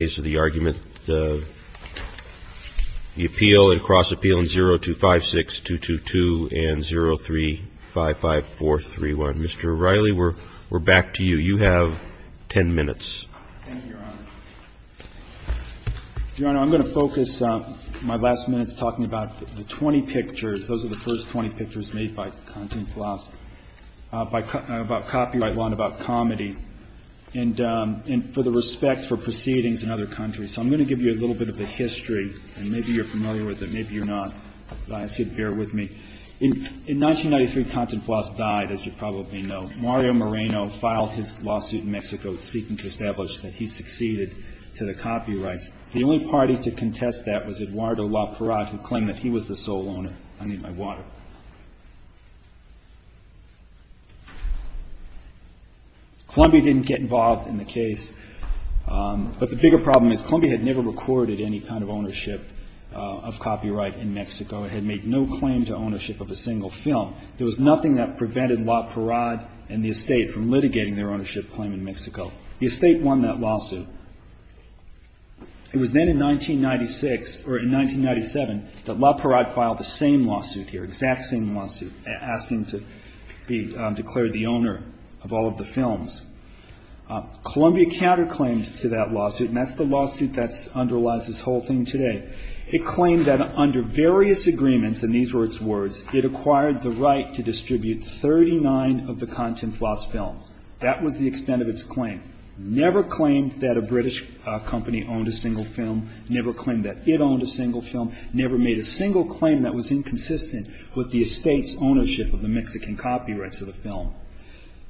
Mr. O'Reilly, we're back to you. You have ten minutes. Thank you, Your Honor. Your Honor, I'm going to focus my last minutes talking about the 20 pictures. Those are the first 20 pictures made by Content Philosophy about copyright law and about comedy. And for the respect for proceedings in other countries. So I'm going to give you a little bit of the history. And maybe you're familiar with it, maybe you're not. But I ask you to bear with me. In 1993, Content Philosophy died, as you probably know. Mario Moreno filed his lawsuit in Mexico, seeking to establish that he succeeded to the copyrights. The only party to contest that was Eduardo La Parra, who claimed that he was the sole owner. I need my water. Columbia didn't get involved in the case. But the bigger problem is Columbia had never recorded any kind of ownership of copyright in Mexico. It had made no claim to ownership of a single film. There was nothing that prevented La Parra and the estate from litigating their ownership claim in Mexico. The estate won that lawsuit. It was then in 1996, or in 1997, that La Parra filed the same lawsuit here. Exact same lawsuit, asking to be declared the owner of all of the films. Columbia counterclaimed to that lawsuit. And that's the lawsuit that underlies this whole thing today. It claimed that under various agreements, and these were its words, it acquired the right to distribute 39 of the Content Philosophy films. That was the extent of its claim. Never claimed that a British company owned a single film. Never claimed that it owned a single film. Never made a single claim that was inconsistent with the estate's ownership of the Mexican copyrights of the film.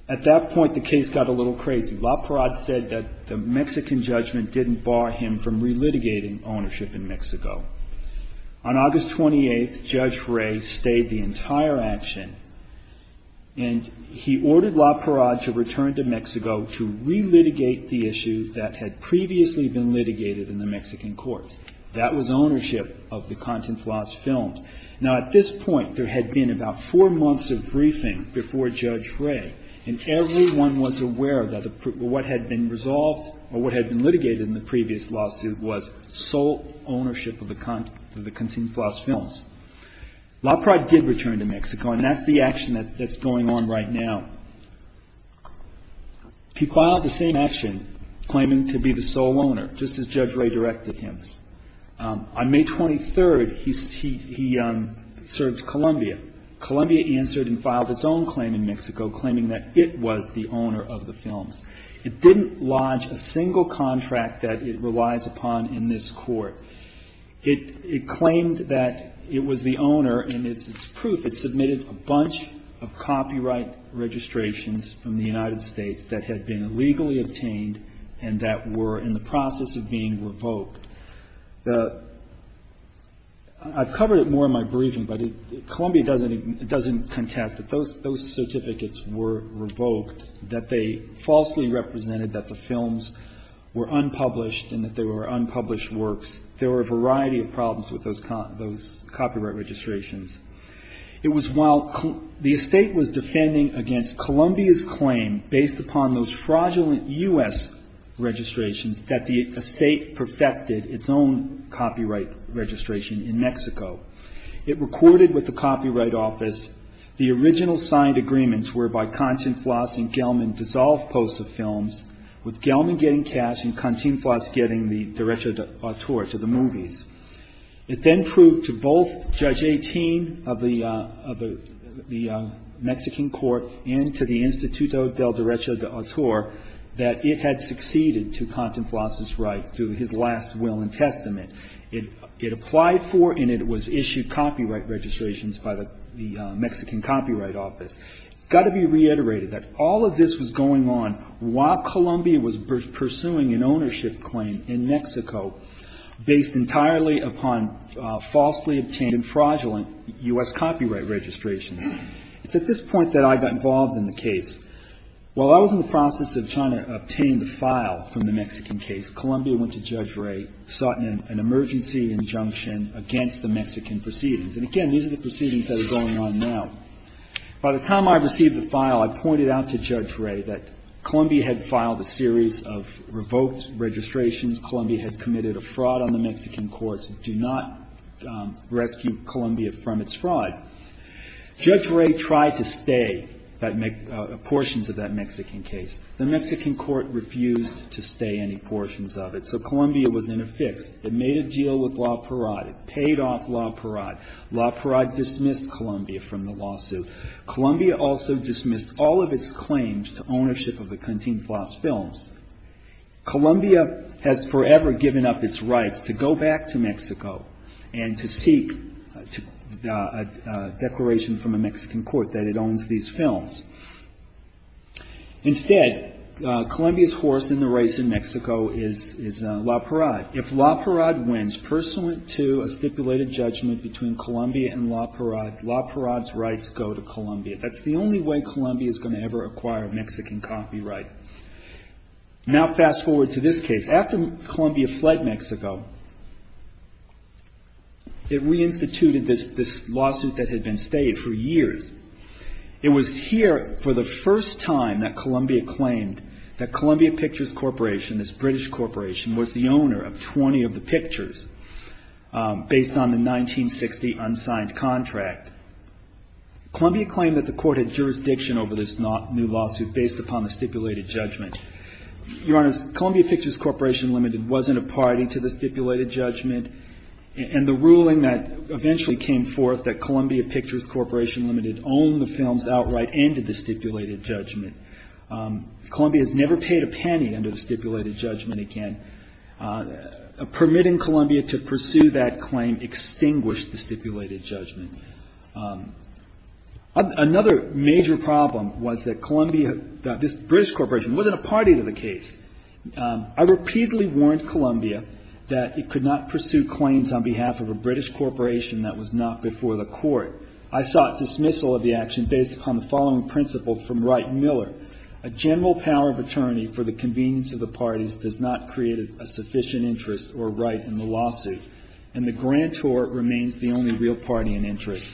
At that point, the case got a little crazy. La Parra said that the Mexican judgment didn't bar him from relitigating ownership in Mexico. On August 28th, Judge Ray stayed the entire action. And he ordered La Parra to return to Mexico to relitigate the issue that had previously been litigated in the Mexican courts. That was ownership of the Content Philosophy films. Now, at this point, there had been about four months of briefing before Judge Ray, and everyone was aware that what had been resolved, or what had been litigated in the previous lawsuit, was sole ownership of the Content Philosophy films. La Parra did return to Mexico, and that's the action that's going on right now. He filed the same action, claiming to be the sole owner, just as Judge Ray directed him. On May 23rd, he served Columbia. Columbia answered and filed its own claim in Mexico, claiming that it was the owner of the films. It didn't lodge a single contract that it relies upon in this court. It claimed that it was the owner, and it's proof it submitted a bunch of copyright registrations from the United States that had been illegally obtained and that were in the process of being revoked. I've covered it more in my briefing, but Columbia doesn't contest that those certificates were revoked, that they falsely represented that the films were unpublished, and that they were unpublished works. There were a variety of problems with those copyright registrations. It was while the estate was defending against Columbia's claim, based upon those fraudulent U.S. registrations, that the estate perfected its own copyright registration in Mexico. It recorded with the Copyright Office the original signed agreements whereby Continflas and Gelman dissolved posts of films, with Gelman getting cash and Continflas getting the derecho de autor to the movies. It then proved to both Judge 18 of the Mexican court and to the Instituto del Derecho de Autor that it had succeeded to Continflas' right through his last will and testament. It applied for and it was issued copyright registrations by the Mexican Copyright Office. It's got to be reiterated that all of this was going on while Columbia was pursuing an ownership claim in Mexico, based entirely upon falsely obtained and fraudulent U.S. copyright registrations. It's at this point that I got involved in the case. While I was in the process of trying to obtain the file from the Mexican case, Columbia went to Judge Ray, sought an emergency injunction against the Mexican proceedings. And again, these are the proceedings that are going on now. By the time I received the file, I pointed out to Judge Ray that Columbia had filed a series of revoked registrations, Columbia had committed a fraud on the Mexican courts, do not rescue Columbia from its fraud. Judge Ray tried to stay portions of that Mexican case. The Mexican court refused to stay any portions of it, so Columbia was in a fix. It made a deal with La Parade, it paid off La Parade. La Parade dismissed Columbia from the lawsuit. Columbia also dismissed all of its claims to ownership of the Continflas films. Columbia has forever given up its rights to go back to Mexico and to seek a declaration from a Mexican court that it owns these films. Instead, Columbia's horse in the race in Mexico is La Parade. If La Parade wins pursuant to a stipulated judgment between Columbia and La Parade, La Parade's rights go to Columbia. That's the only way Columbia is going to ever acquire Mexican copyright. Now fast forward to this case. After Columbia fled Mexico, it reinstituted this lawsuit that had been stayed for years. It was here for the first time that Columbia claimed that Columbia Pictures Corporation, this British corporation, was the owner of 20 of the pictures based on the 1960 unsigned contract. Columbia claimed that the court had jurisdiction over this new lawsuit based upon the stipulated judgment. Your Honor, Columbia Pictures Corporation Limited wasn't a party to the stipulated judgment, and the ruling that eventually came forth that Columbia Pictures Corporation Limited owned the films outright ended the stipulated judgment. Columbia has never paid a penny under the stipulated judgment again. Permitting Columbia to pursue that claim extinguished the stipulated judgment. Another major problem was that Columbia, this British corporation, wasn't a party to the case. I repeatedly warned Columbia that it could not pursue claims on behalf of a British corporation that was not before the court. I sought dismissal of the action based upon the following principle from Wright and Miller. A general power of attorney for the convenience of the parties does not create a sufficient interest or right in the lawsuit, and the grantor remains the only real party in interest.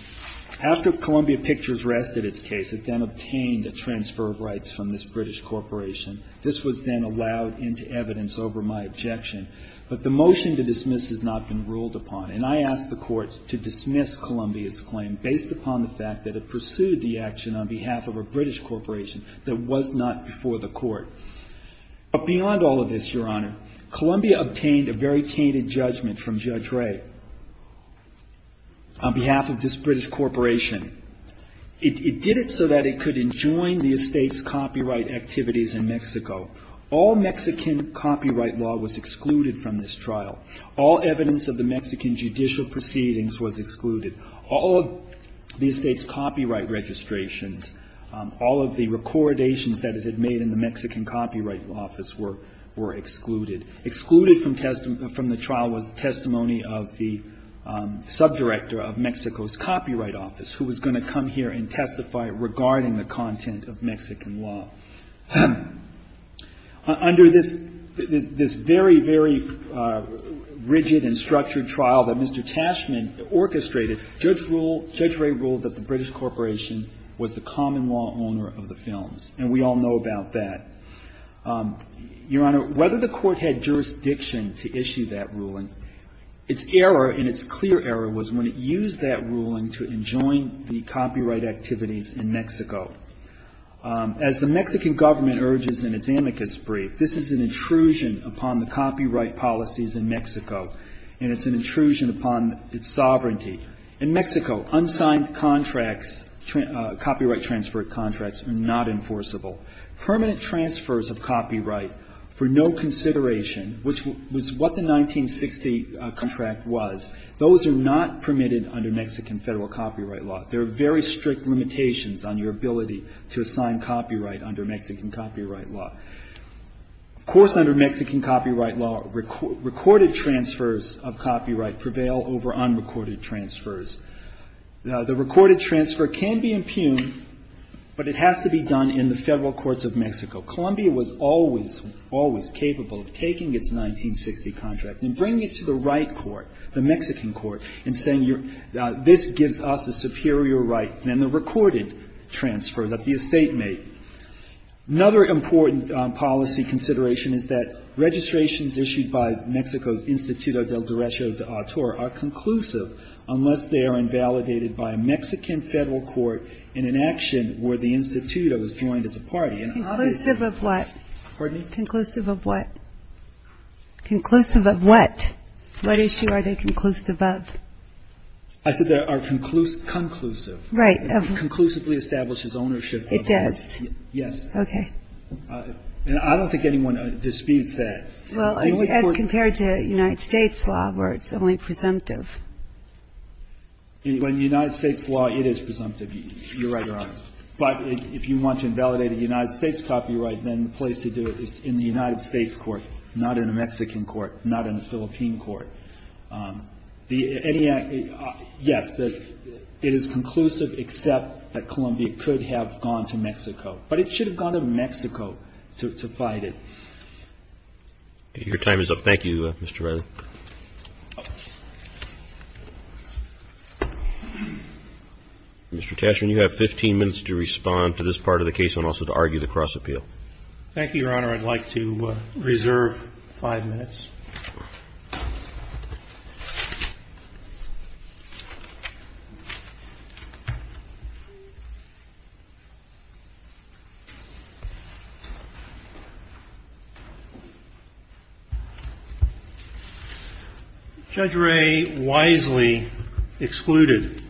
After Columbia Pictures rested its case, it then obtained a transfer of rights from this British corporation. This was then allowed into evidence over my objection, but the motion to dismiss has not been ruled upon, and I asked the court to dismiss Columbia's claim based upon the fact that it pursued the action on behalf of a British corporation that was not before the court. But beyond all of this, Your Honor, Columbia obtained a very tainted judgment from Judge Ray. On behalf of this British corporation, it did it so that it could enjoin the estate's copyright activities in Mexico. All Mexican copyright law was excluded from this trial. All evidence of the Mexican judicial proceedings was excluded. All of the estate's copyright registrations, all of the recordations that it had made in the Mexican Copyright Office were excluded. Excluded from the trial was the testimony of the subdirector of Mexico's Copyright Office, who was going to come here and testify regarding the content of Mexican law. Under this very, very rigid and structured trial that Mr. Tashman orchestrated, Judge Ray ruled that the British corporation was the common law owner of the films, and we all know about that. Your Honor, whether the court had jurisdiction to issue that ruling, its error and its clear error was when it used that ruling to enjoin the copyright activities in Mexico. As the Mexican government urges in its amicus brief, this is an intrusion upon the copyright policies in Mexico, and it's an intrusion upon its sovereignty. In Mexico, unsigned contracts, copyright transfer contracts are not enforceable. Permanent transfers of copyright for no consideration, which was what the 1960 contract was, those are not permitted under Mexican Federal Copyright Law. There are very strict limitations on your ability to assign copyright under Mexican Copyright Law. Of course, under Mexican Copyright Law, recorded transfers of copyright prevail over unrecorded transfers. The recorded transfer can be impugned, but it has to be done in the federal courts of Mexico. Columbia was always, always capable of taking its 1960 contract and bringing it to the right court, the Mexican court, and saying, this gives us a superior right than the recorded transfer that the estate made. The other issue on policy consideration is that registrations issued by Mexico's Instituto del Derecho de Autor are conclusive, unless they are invalidated by a Mexican federal court in an action where the instituto is joined as a party. Conclusive of what? Conclusive of what? What issue are they conclusive of? I said they are conclusive. Right. It conclusively establishes ownership. It does. Yes. Okay. And I don't think anyone disputes that. Well, as compared to United States law where it's only presumptive. In United States law, it is presumptive, Your Honor. But if you want to invalidate a United States copyright, then the place to do it is in the United States court, not in a Mexican court, not in a Philippine court. Yes, it is conclusive, except that Columbia could have gone to Mexico. But it should have gone to Mexico to fight it. Your time is up. Thank you, Mr. Riley. Mr. Tashern, you have 15 minutes to respond to this part of the case and also to argue the cross-appeal. Thank you, Your Honor. I'd like to reserve five minutes. Judge Ray wisely excluded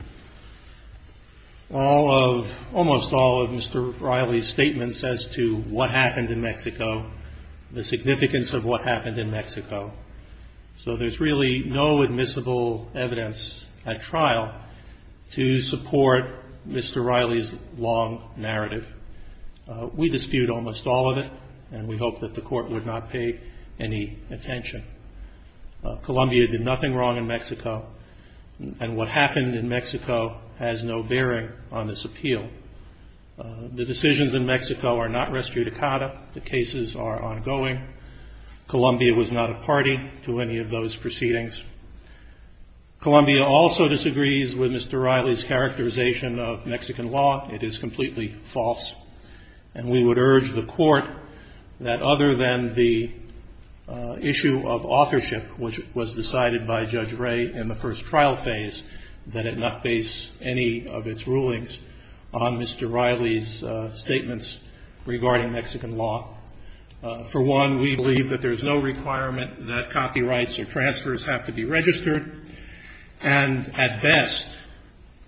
all of almost all of Mr. Riley's statements as to what happened in Mexico, the significance of what happened in Mexico. So there's really no admissible evidence at trial to support Mr. Riley's long narrative. We dispute almost all of it, and we hope that the court would not pay any attention. Columbia did nothing wrong in Mexico, and what happened in Mexico has no bearing on this appeal. The decisions in Mexico are not res judicata. The cases are ongoing. Columbia was not a party to any of those proceedings. Columbia also disagrees with Mr. Riley's characterization of Mexican law. It is completely false. And we would urge the court that other than the issue of authorship, which was decided by Judge Ray in the first trial phase, that it not base any of its rulings on Mr. Riley's statements regarding Mexican law. For one, we believe that there's no requirement that copyrights or transfers have to be registered. And at best,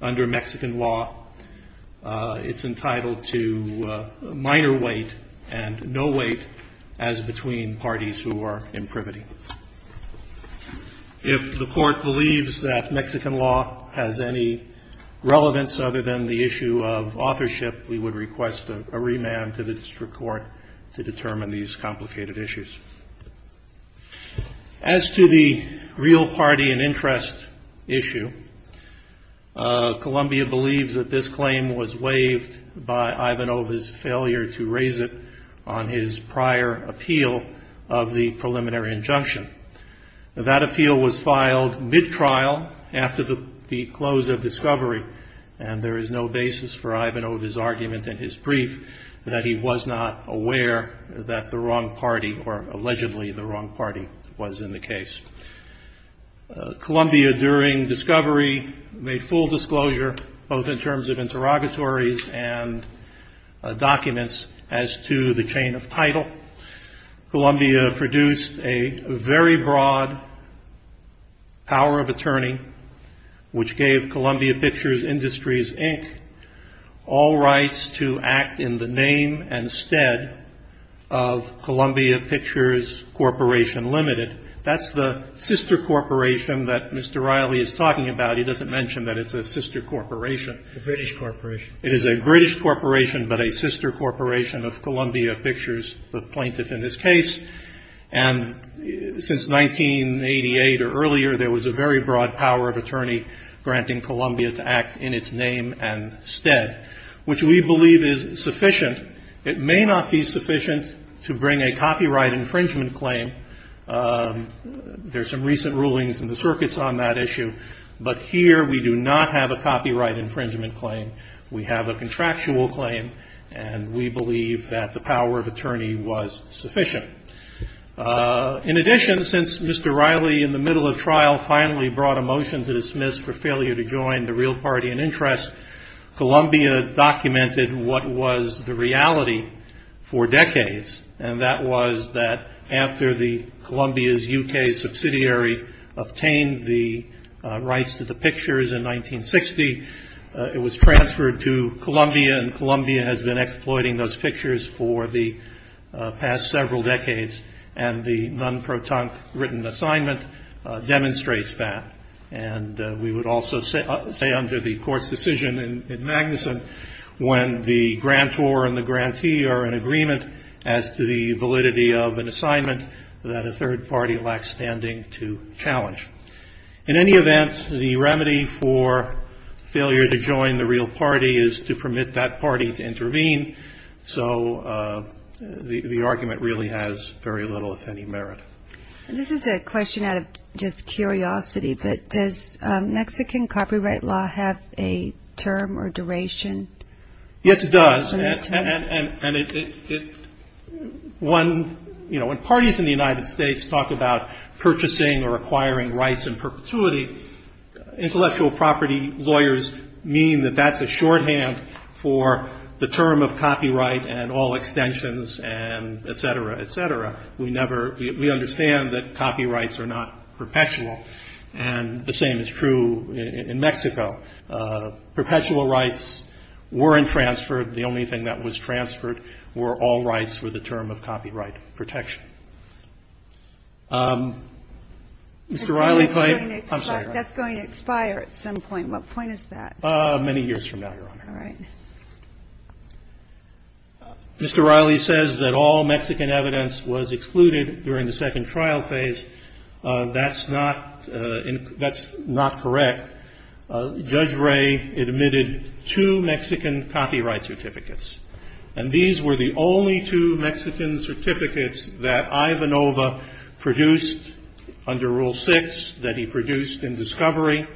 under Mexican law, it's entitled to minor weight and no weight as between parties who are in privity. If the court believes that Mexican law has any relevance other than the issue of authorship, we would request a remand to the district court to determine these complicated issues. As to the real party and interest issue, Columbia believes that this claim was waived by Ivanova's failure to raise it on his prior appeal of the preliminary injunction. That appeal was filed mid-trial after the close of discovery, and there is no basis for Ivanova's argument in his brief that he was not aware that the wrong party, or allegedly the wrong party, was in the case. Columbia, during discovery, made full disclosure, both in terms of interrogatories and documents, as to the chain of title. Columbia produced a very broad power of attorney, which gave Columbia Pictures Industries, Inc. all rights to act in the name and stead of Columbia Pictures Corporation Limited. That's the sister corporation that Mr. Riley is talking about. He doesn't mention that it's a sister corporation. The British Corporation. It is a British corporation, but a sister corporation of Columbia Pictures, the plaintiff in this case. And since 1988 or earlier, there was a very broad power of attorney granting Columbia to act in its name and stead, which we believe is sufficient. It may not be sufficient to bring a copyright infringement claim. There are some recent rulings in the circuits on that issue. But here we do not have a copyright infringement claim. We have a contractual claim, and we believe that the power of attorney was sufficient. In addition, since Mr. Riley, in the middle of trial, finally brought a motion to dismiss for failure to join the real party in interest, Columbia documented what was the reality for decades, and that was that after Columbia's U.K. subsidiary obtained the rights to the pictures in 1960, it was transferred to Columbia, and Columbia has been exploiting those pictures for the past several decades. And the non-proton written assignment demonstrates that. And we would also say under the court's decision in Magnuson, when the grantor and the grantee are in agreement as to the validity of an assignment, that a third party lacks standing to challenge. In any event, the remedy for failure to join the real party is to permit that party to intervene. So the argument really has very little, if any, merit. This is a question out of just curiosity, but does Mexican copyright law have a term or duration? Yes, it does. When parties in the United States talk about purchasing or acquiring rights in perpetuity, intellectual property lawyers mean that that's a shorthand for the term of copyright and all extensions, and et cetera, et cetera. We understand that copyrights are not perpetual, and the same is true in Mexico. Perpetual rights weren't transferred. The only thing that was transferred were all rights for the term of copyright protection. Mr. Riley, I'm sorry. That's going to expire at some point. What point is that? Many years from now, Your Honor. All right. Mr. Riley says that all Mexican evidence was excluded during the second trial phase. That's not correct. Judge Ray admitted two Mexican copyright certificates, and these were the only two Mexican certificates that Ivanova produced under Rule 6, that he produced in discovery,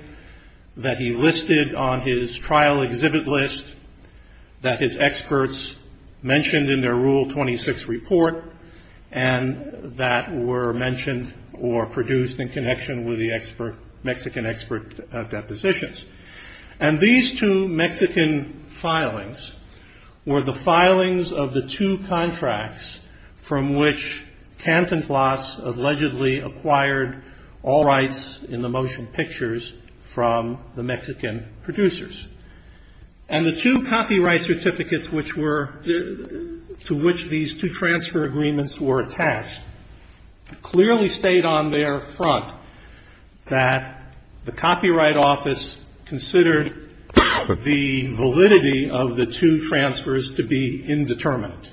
that he listed on his trial exhibit list, that his experts mentioned in their Rule 26 report, and that were mentioned or produced in connection with the Mexican expert depositions. And these two Mexican filings were the filings of the two contracts from which Cantinflas allegedly acquired all rights in the motion pictures from the Mexican producers. And the two copyright certificates to which these two transfer agreements were attached clearly stayed on their front, that the Copyright Office considered the validity of the two transfers to be indeterminate.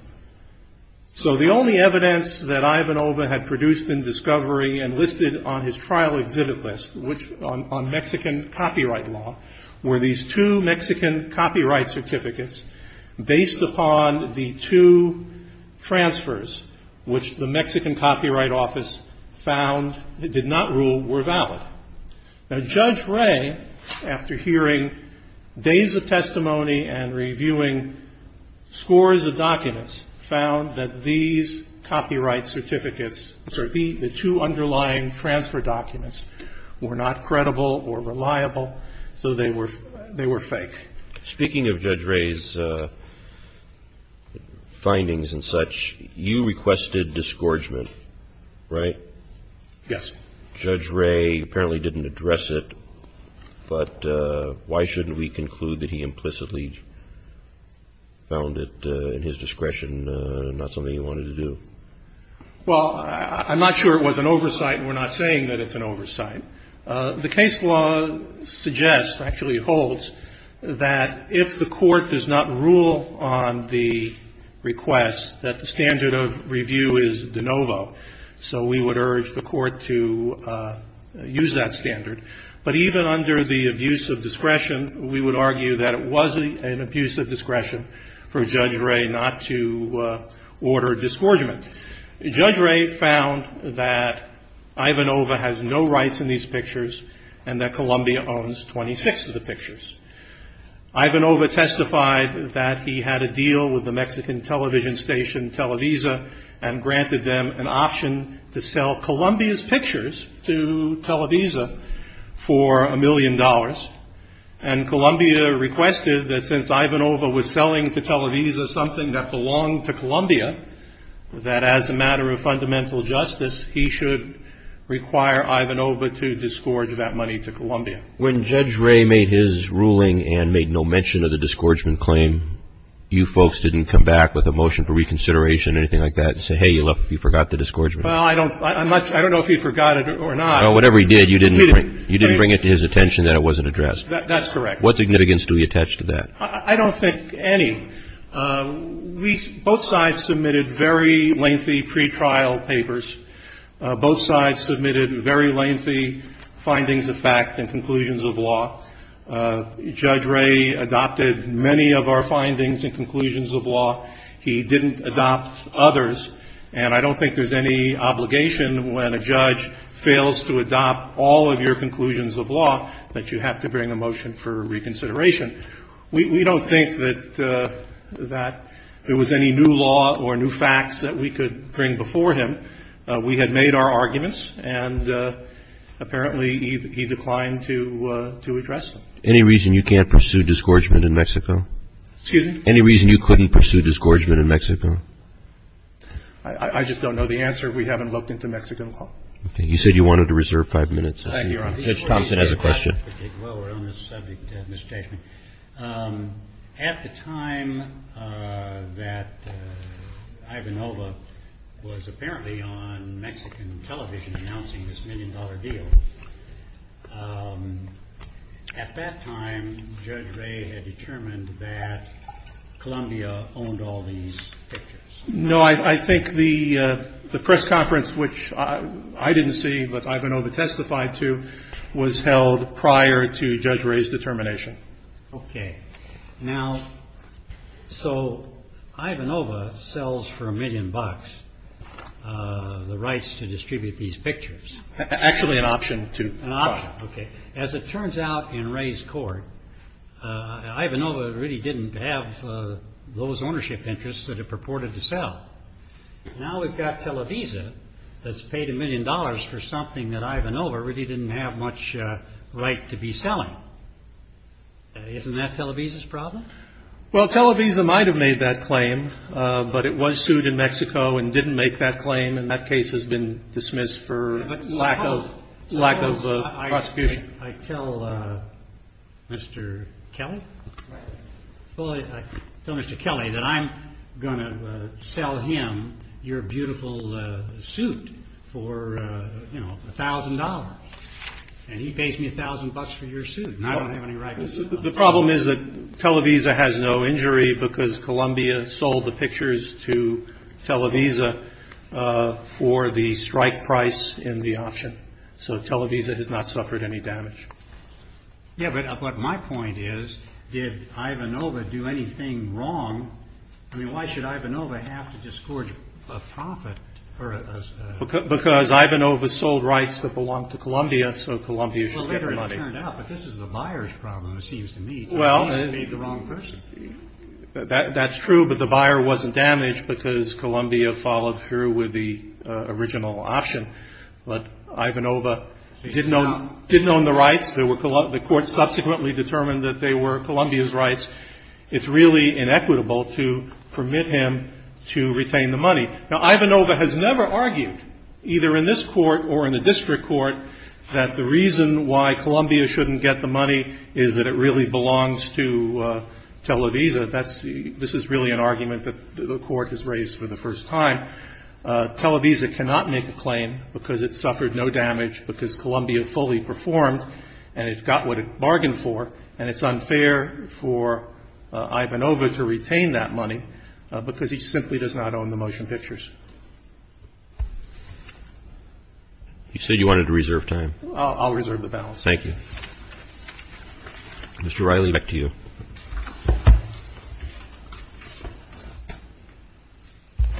So the only evidence that Ivanova had produced in discovery and listed on his trial exhibit list, on Mexican copyright law, were these two Mexican copyright certificates based upon the two transfers which the Mexican Copyright Office found, did not rule, were valid. Now, Judge Ray, after hearing days of testimony and reviewing scores of documents, found that these copyright certificates, the two underlying transfer documents, were not credible or reliable, so they were fake. Speaking of Judge Ray's findings and such, you requested disgorgement, right? Yes. Judge Ray apparently didn't address it, but why shouldn't we conclude that he implicitly found it in his discretion, not something he wanted to do? Well, I'm not sure it was an oversight, and we're not saying that it's an oversight. The case law suggests, actually holds, that if the court does not rule on the request, that the standard of review is de novo, so we would urge the court to use that standard. But even under the abuse of discretion, we would argue that it was an abuse of discretion for Judge Ray not to order disgorgement. Judge Ray found that Ivanova has no rights in these pictures and that Columbia owns 26 of the pictures. Ivanova testified that he had a deal with the Mexican television station Televisa and granted them an option to sell Columbia's pictures to Televisa for a million dollars, and Columbia requested that since Ivanova was selling to Televisa something that belonged to Columbia, that as a matter of fundamental justice, he should require Ivanova to disgorge that money to Columbia. When Judge Ray made his ruling and made no mention of the disgorgement claim, you folks didn't come back with a motion for reconsideration, anything like that, and say, hey, look, you forgot the disgorgement? Well, I don't know if he forgot it or not. Whatever he did, you didn't bring it to his attention that it wasn't addressed. That's correct. What significance do we attach to that? I don't think any. Both sides submitted very lengthy pretrial papers. Both sides submitted very lengthy findings of fact and conclusions of law. Judge Ray adopted many of our findings and conclusions of law. He didn't adopt others, and I don't think there's any obligation when a judge fails to adopt all of your conclusions of law that you have to bring a motion for reconsideration. We don't think that there was any new law or new facts that we could bring before him. We had made our arguments, and apparently he declined to address them. Any reason you can't pursue disgorgement in Mexico? Excuse me? Any reason you couldn't pursue disgorgement in Mexico? I just don't know the answer. We haven't looked into Mexican law. Okay. You said you wanted to reserve five minutes. Thank you, Your Honor. Judge Thompson has a question. Well, we're on the subject of misstatement. At the time that Ivanova was apparently on Mexican television announcing this million-dollar deal, at that time, Judge Ray had determined that Colombia owned all these pictures. No, I think the press conference, which I didn't see but Ivanova testified to, was held prior to Judge Ray's determination. Okay. Now, so Ivanova sells for a million bucks the rights to distribute these pictures. Actually, an option to. An option. Okay. As it turns out in Ray's court, Ivanova really didn't have those ownership interests that it purported to sell. Now we've got Televisa that's paid a million dollars for something that Ivanova really didn't have much right to be selling. Isn't that Televisa's problem? Well, Televisa might have made that claim, but it was sued in Mexico and didn't make that claim, and that case has been dismissed for lack of prosecution. I tell Mr. Kelly that I'm going to sell him your beautiful suit for $1,000, and he pays me $1,000 for your suit, and I don't have any right to sell it. The problem is that Televisa has no injury because Colombia sold the pictures to Televisa for the strike price in the option. So Televisa has not suffered any damage. Yeah, but my point is, did Ivanova do anything wrong? I mean, why should Ivanova have to disgorge a profit? Because Ivanova sold rights that belonged to Colombia, so Colombia should get the money. Well, later it turned out, but this is the buyer's problem, it seems to me. They made the wrong person. That's true, but the buyer wasn't damaged because Colombia followed through with the original option. But Ivanova didn't own the rights. The court subsequently determined that they were Colombia's rights. It's really inequitable to permit him to retain the money. Now, Ivanova has never argued, either in this court or in the district court, that the reason why Colombia shouldn't get the money is that it really belongs to Televisa. This is really an argument that the court has raised for the first time. Televisa cannot make a claim because it suffered no damage, because Colombia fully performed and it got what it bargained for, and it's unfair for Ivanova to retain that money because he simply does not own the motion pictures. You said you wanted to reserve time. I'll reserve the balance. Thank you. Mr. Riley, back to you.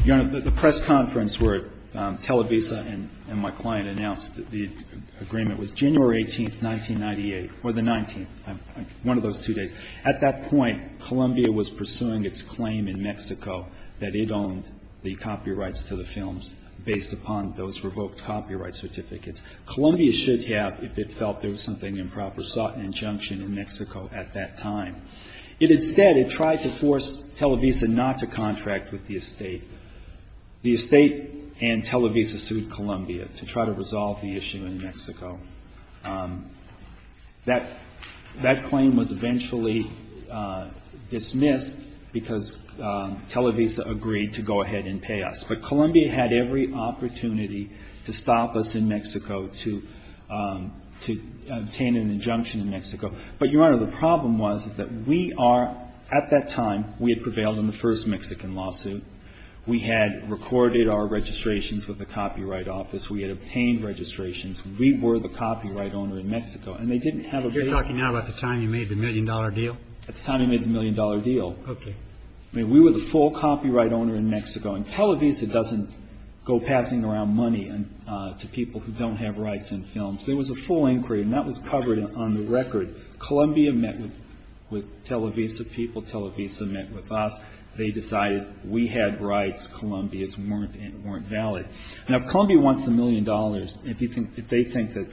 Your Honor, the press conference where Televisa and my client announced the agreement was January 18, 1998, or the 19th, one of those two days. At that point, Colombia was pursuing its claim in Mexico that it owned the copyrights to the films based upon those revoked copyright certificates. Colombia should have, if it felt there was something improper, sought an injunction in Mexico at that time. Instead, it tried to force Televisa not to contract with the estate. The estate and Televisa sued Colombia to try to resolve the issue in Mexico. That claim was eventually dismissed because Televisa agreed to go ahead and pay us. But Colombia had every opportunity to stop us in Mexico, to obtain an injunction in Mexico. But, Your Honor, the problem was is that we are, at that time, we had prevailed in the first Mexican lawsuit. We had recorded our registrations with the Copyright Office. We had obtained registrations. We were the copyright owner in Mexico. And they didn't have a basis. You're talking now about the time you made the million-dollar deal? At the time we made the million-dollar deal. Okay. I mean, we were the full copyright owner in Mexico. And Televisa doesn't go passing around money to people who don't have rights in films. There was a full inquiry, and that was covered on the record. Colombia met with Televisa people. Televisa met with us. They decided we had rights. Colombia's weren't valid. Now, if Colombia wants the million dollars, if they think that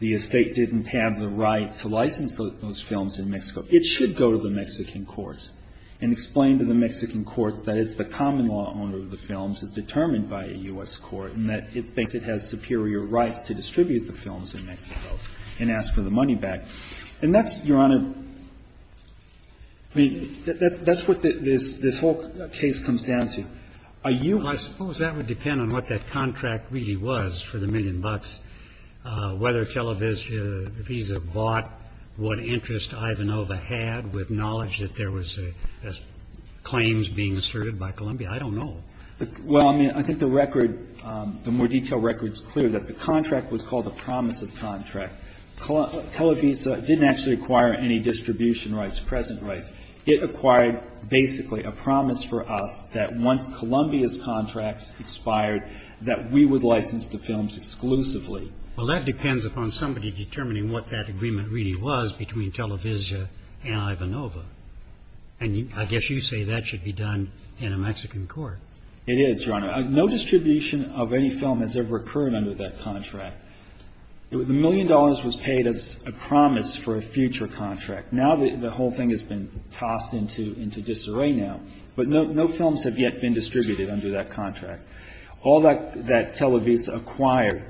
the estate didn't have the right to license those films in Mexico, it should go to the Mexican courts. And explain to the Mexican courts that it's the common law owner of the films is determined by a U.S. court, and that it thinks it has superior rights to distribute the films in Mexico, and ask for the money back. And that's, Your Honor, I mean, that's what this whole case comes down to. Are you going to do that? Well, I suppose that would depend on what that contract really was for the million bucks, whether Televisa bought what interest Ivanova had with knowledge that there was claims being asserted by Colombia. I don't know. Well, I mean, I think the record, the more detailed record is clear that the contract was called a promise of contract. Televisa didn't actually acquire any distribution rights, present rights. It acquired basically a promise for us that once Colombia's contracts expired, that we would license the films exclusively. Well, that depends upon somebody determining what that agreement really was between Televisa and Ivanova. And I guess you say that should be done in a Mexican court. It is, Your Honor. No distribution of any film has ever occurred under that contract. The million dollars was paid as a promise for a future contract. Now the whole thing has been tossed into disarray now. But no films have yet been distributed under that contract. All that Televisa acquired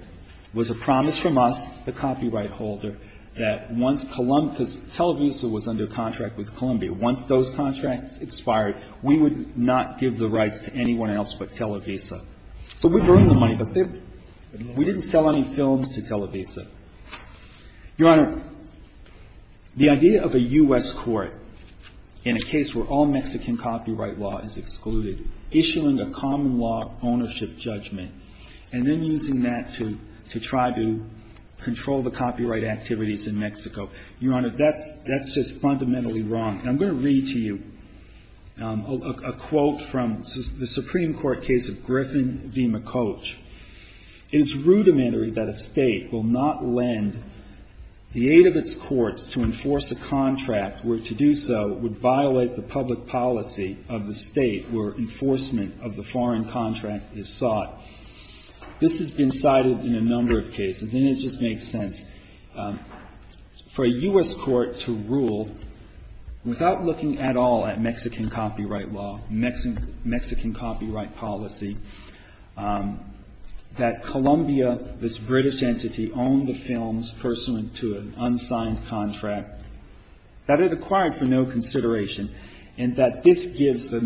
was a promise from us, the copyright holder, that once Televisa was under contract with Colombia, once those contracts expired, we would not give the rights to anyone else but Televisa. So we've earned the money, but we didn't sell any films to Televisa. Your Honor, the idea of a U.S. court in a case where all Mexican copyright law is excluded, issuing a common law ownership judgment, and then using that to try to Your Honor, that's just fundamentally wrong. And I'm going to read to you a quote from the Supreme Court case of Griffin v. McCoach. It is rudimentary that a State will not lend the aid of its courts to enforce a contract where to do so would violate the public policy of the State where enforcement of the foreign contract is sought. This has been cited in a number of cases, and it just makes sense. For a U.S. court to rule without looking at all at Mexican copyright law, Mexican copyright policy, that Colombia, this British entity, owned the films pursuant to an unsigned contract, that it acquired for no consideration, and that this gives the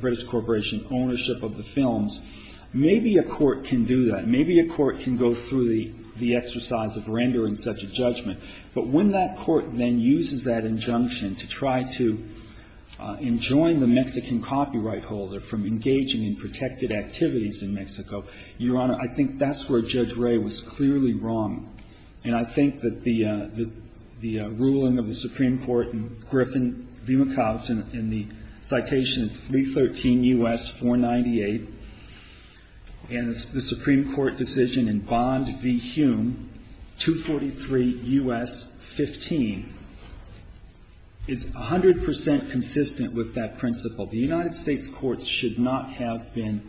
British Corporation ownership of the films, maybe a court can do that. And I think that's a really interesting exercise of rendering such a judgment. But when that court then uses that injunction to try to enjoin the Mexican copyright holder from engaging in protected activities in Mexico, Your Honor, I think that's where Judge Ray was clearly wrong. And I think that the ruling of the Supreme Court in Griffin v. McCoach in the citation of 313 U.S. 498 and the Supreme Court decision in Bond v. Hume, 243 U.S. 15, is 100 percent consistent with that principle. The United States courts should not have been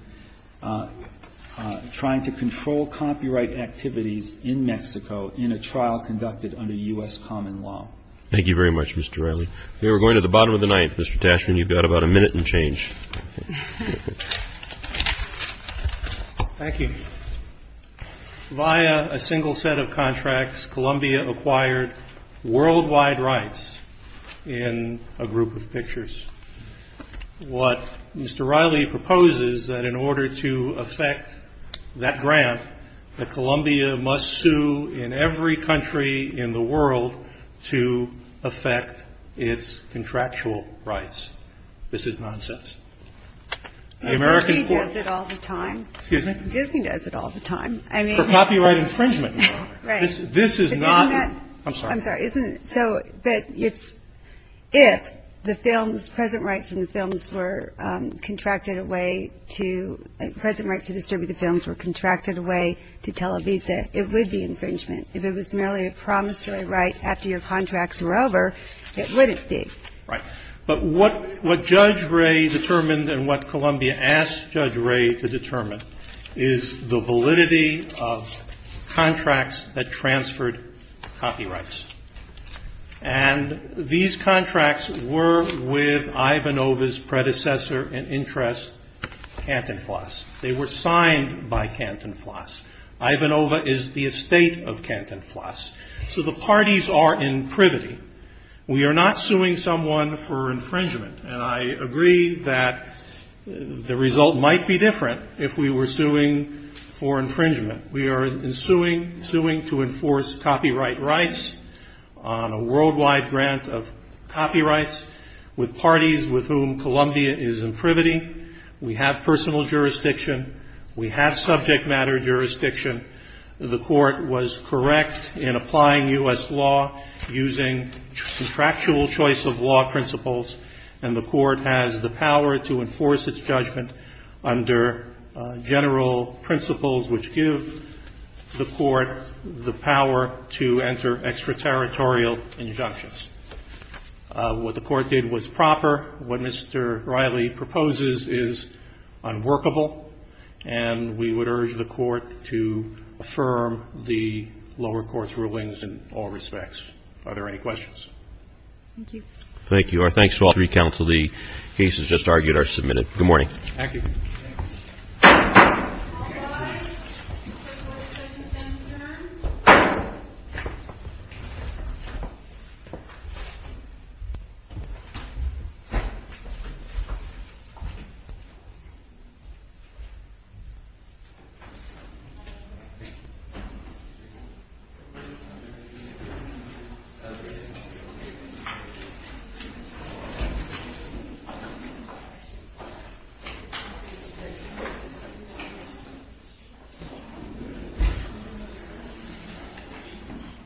trying to control copyright activities in Mexico in a trial conducted under U.S. common law. Thank you very much, Mr. Riley. We are going to the bottom of the ninth. Mr. Tashman, you've got about a minute and change. Thank you. Via a single set of contracts, Columbia acquired worldwide rights in a group of pictures. What Mr. Riley proposes, that in order to effect that grant, that Columbia must sue in every country in the world to effect its contractual rights. This is nonsense. The American court ---- Disney does it all the time. Excuse me? Disney does it all the time. I mean ---- For copyright infringement, Your Honor. Right. This is not ---- Isn't that ---- I'm sorry. I'm sorry. Isn't it so that it's if the films, present rights in the films were contracted away to, present rights to distribute the films were contracted away to Televisa, it would be infringement. If it was merely a promissory right after your contracts were over, it wouldn't be. Right. But what Judge Ray determined and what Columbia asked Judge Ray to determine is the validity of contracts that transferred copyrights. And these contracts were with Ivanova's predecessor in interest, Canton Floss. They were signed by Canton Floss. Ivanova is the estate of Canton Floss. So the parties are in privity. We are not suing someone for infringement. And I agree that the result might be different if we were suing for infringement. We are suing to enforce copyright rights on a worldwide grant of copyrights with parties with whom Columbia is in privity. We have personal jurisdiction. We have subject matter jurisdiction. The Court was correct in applying U.S. law using contractual choice of law principles, and the Court has the power to enforce its judgment under general principles which give the Court the power to enter extraterritorial injunctions. What the Court did was proper. What Mr. Riley proposes is unworkable, and we would urge the Court to affirm the lower court's rulings in all respects. Are there any questions? Thank you. Thank you. Our thanks to all three counsel. The cases just argued are submitted. Good morning. Thank you. All rise. Court is adjourned.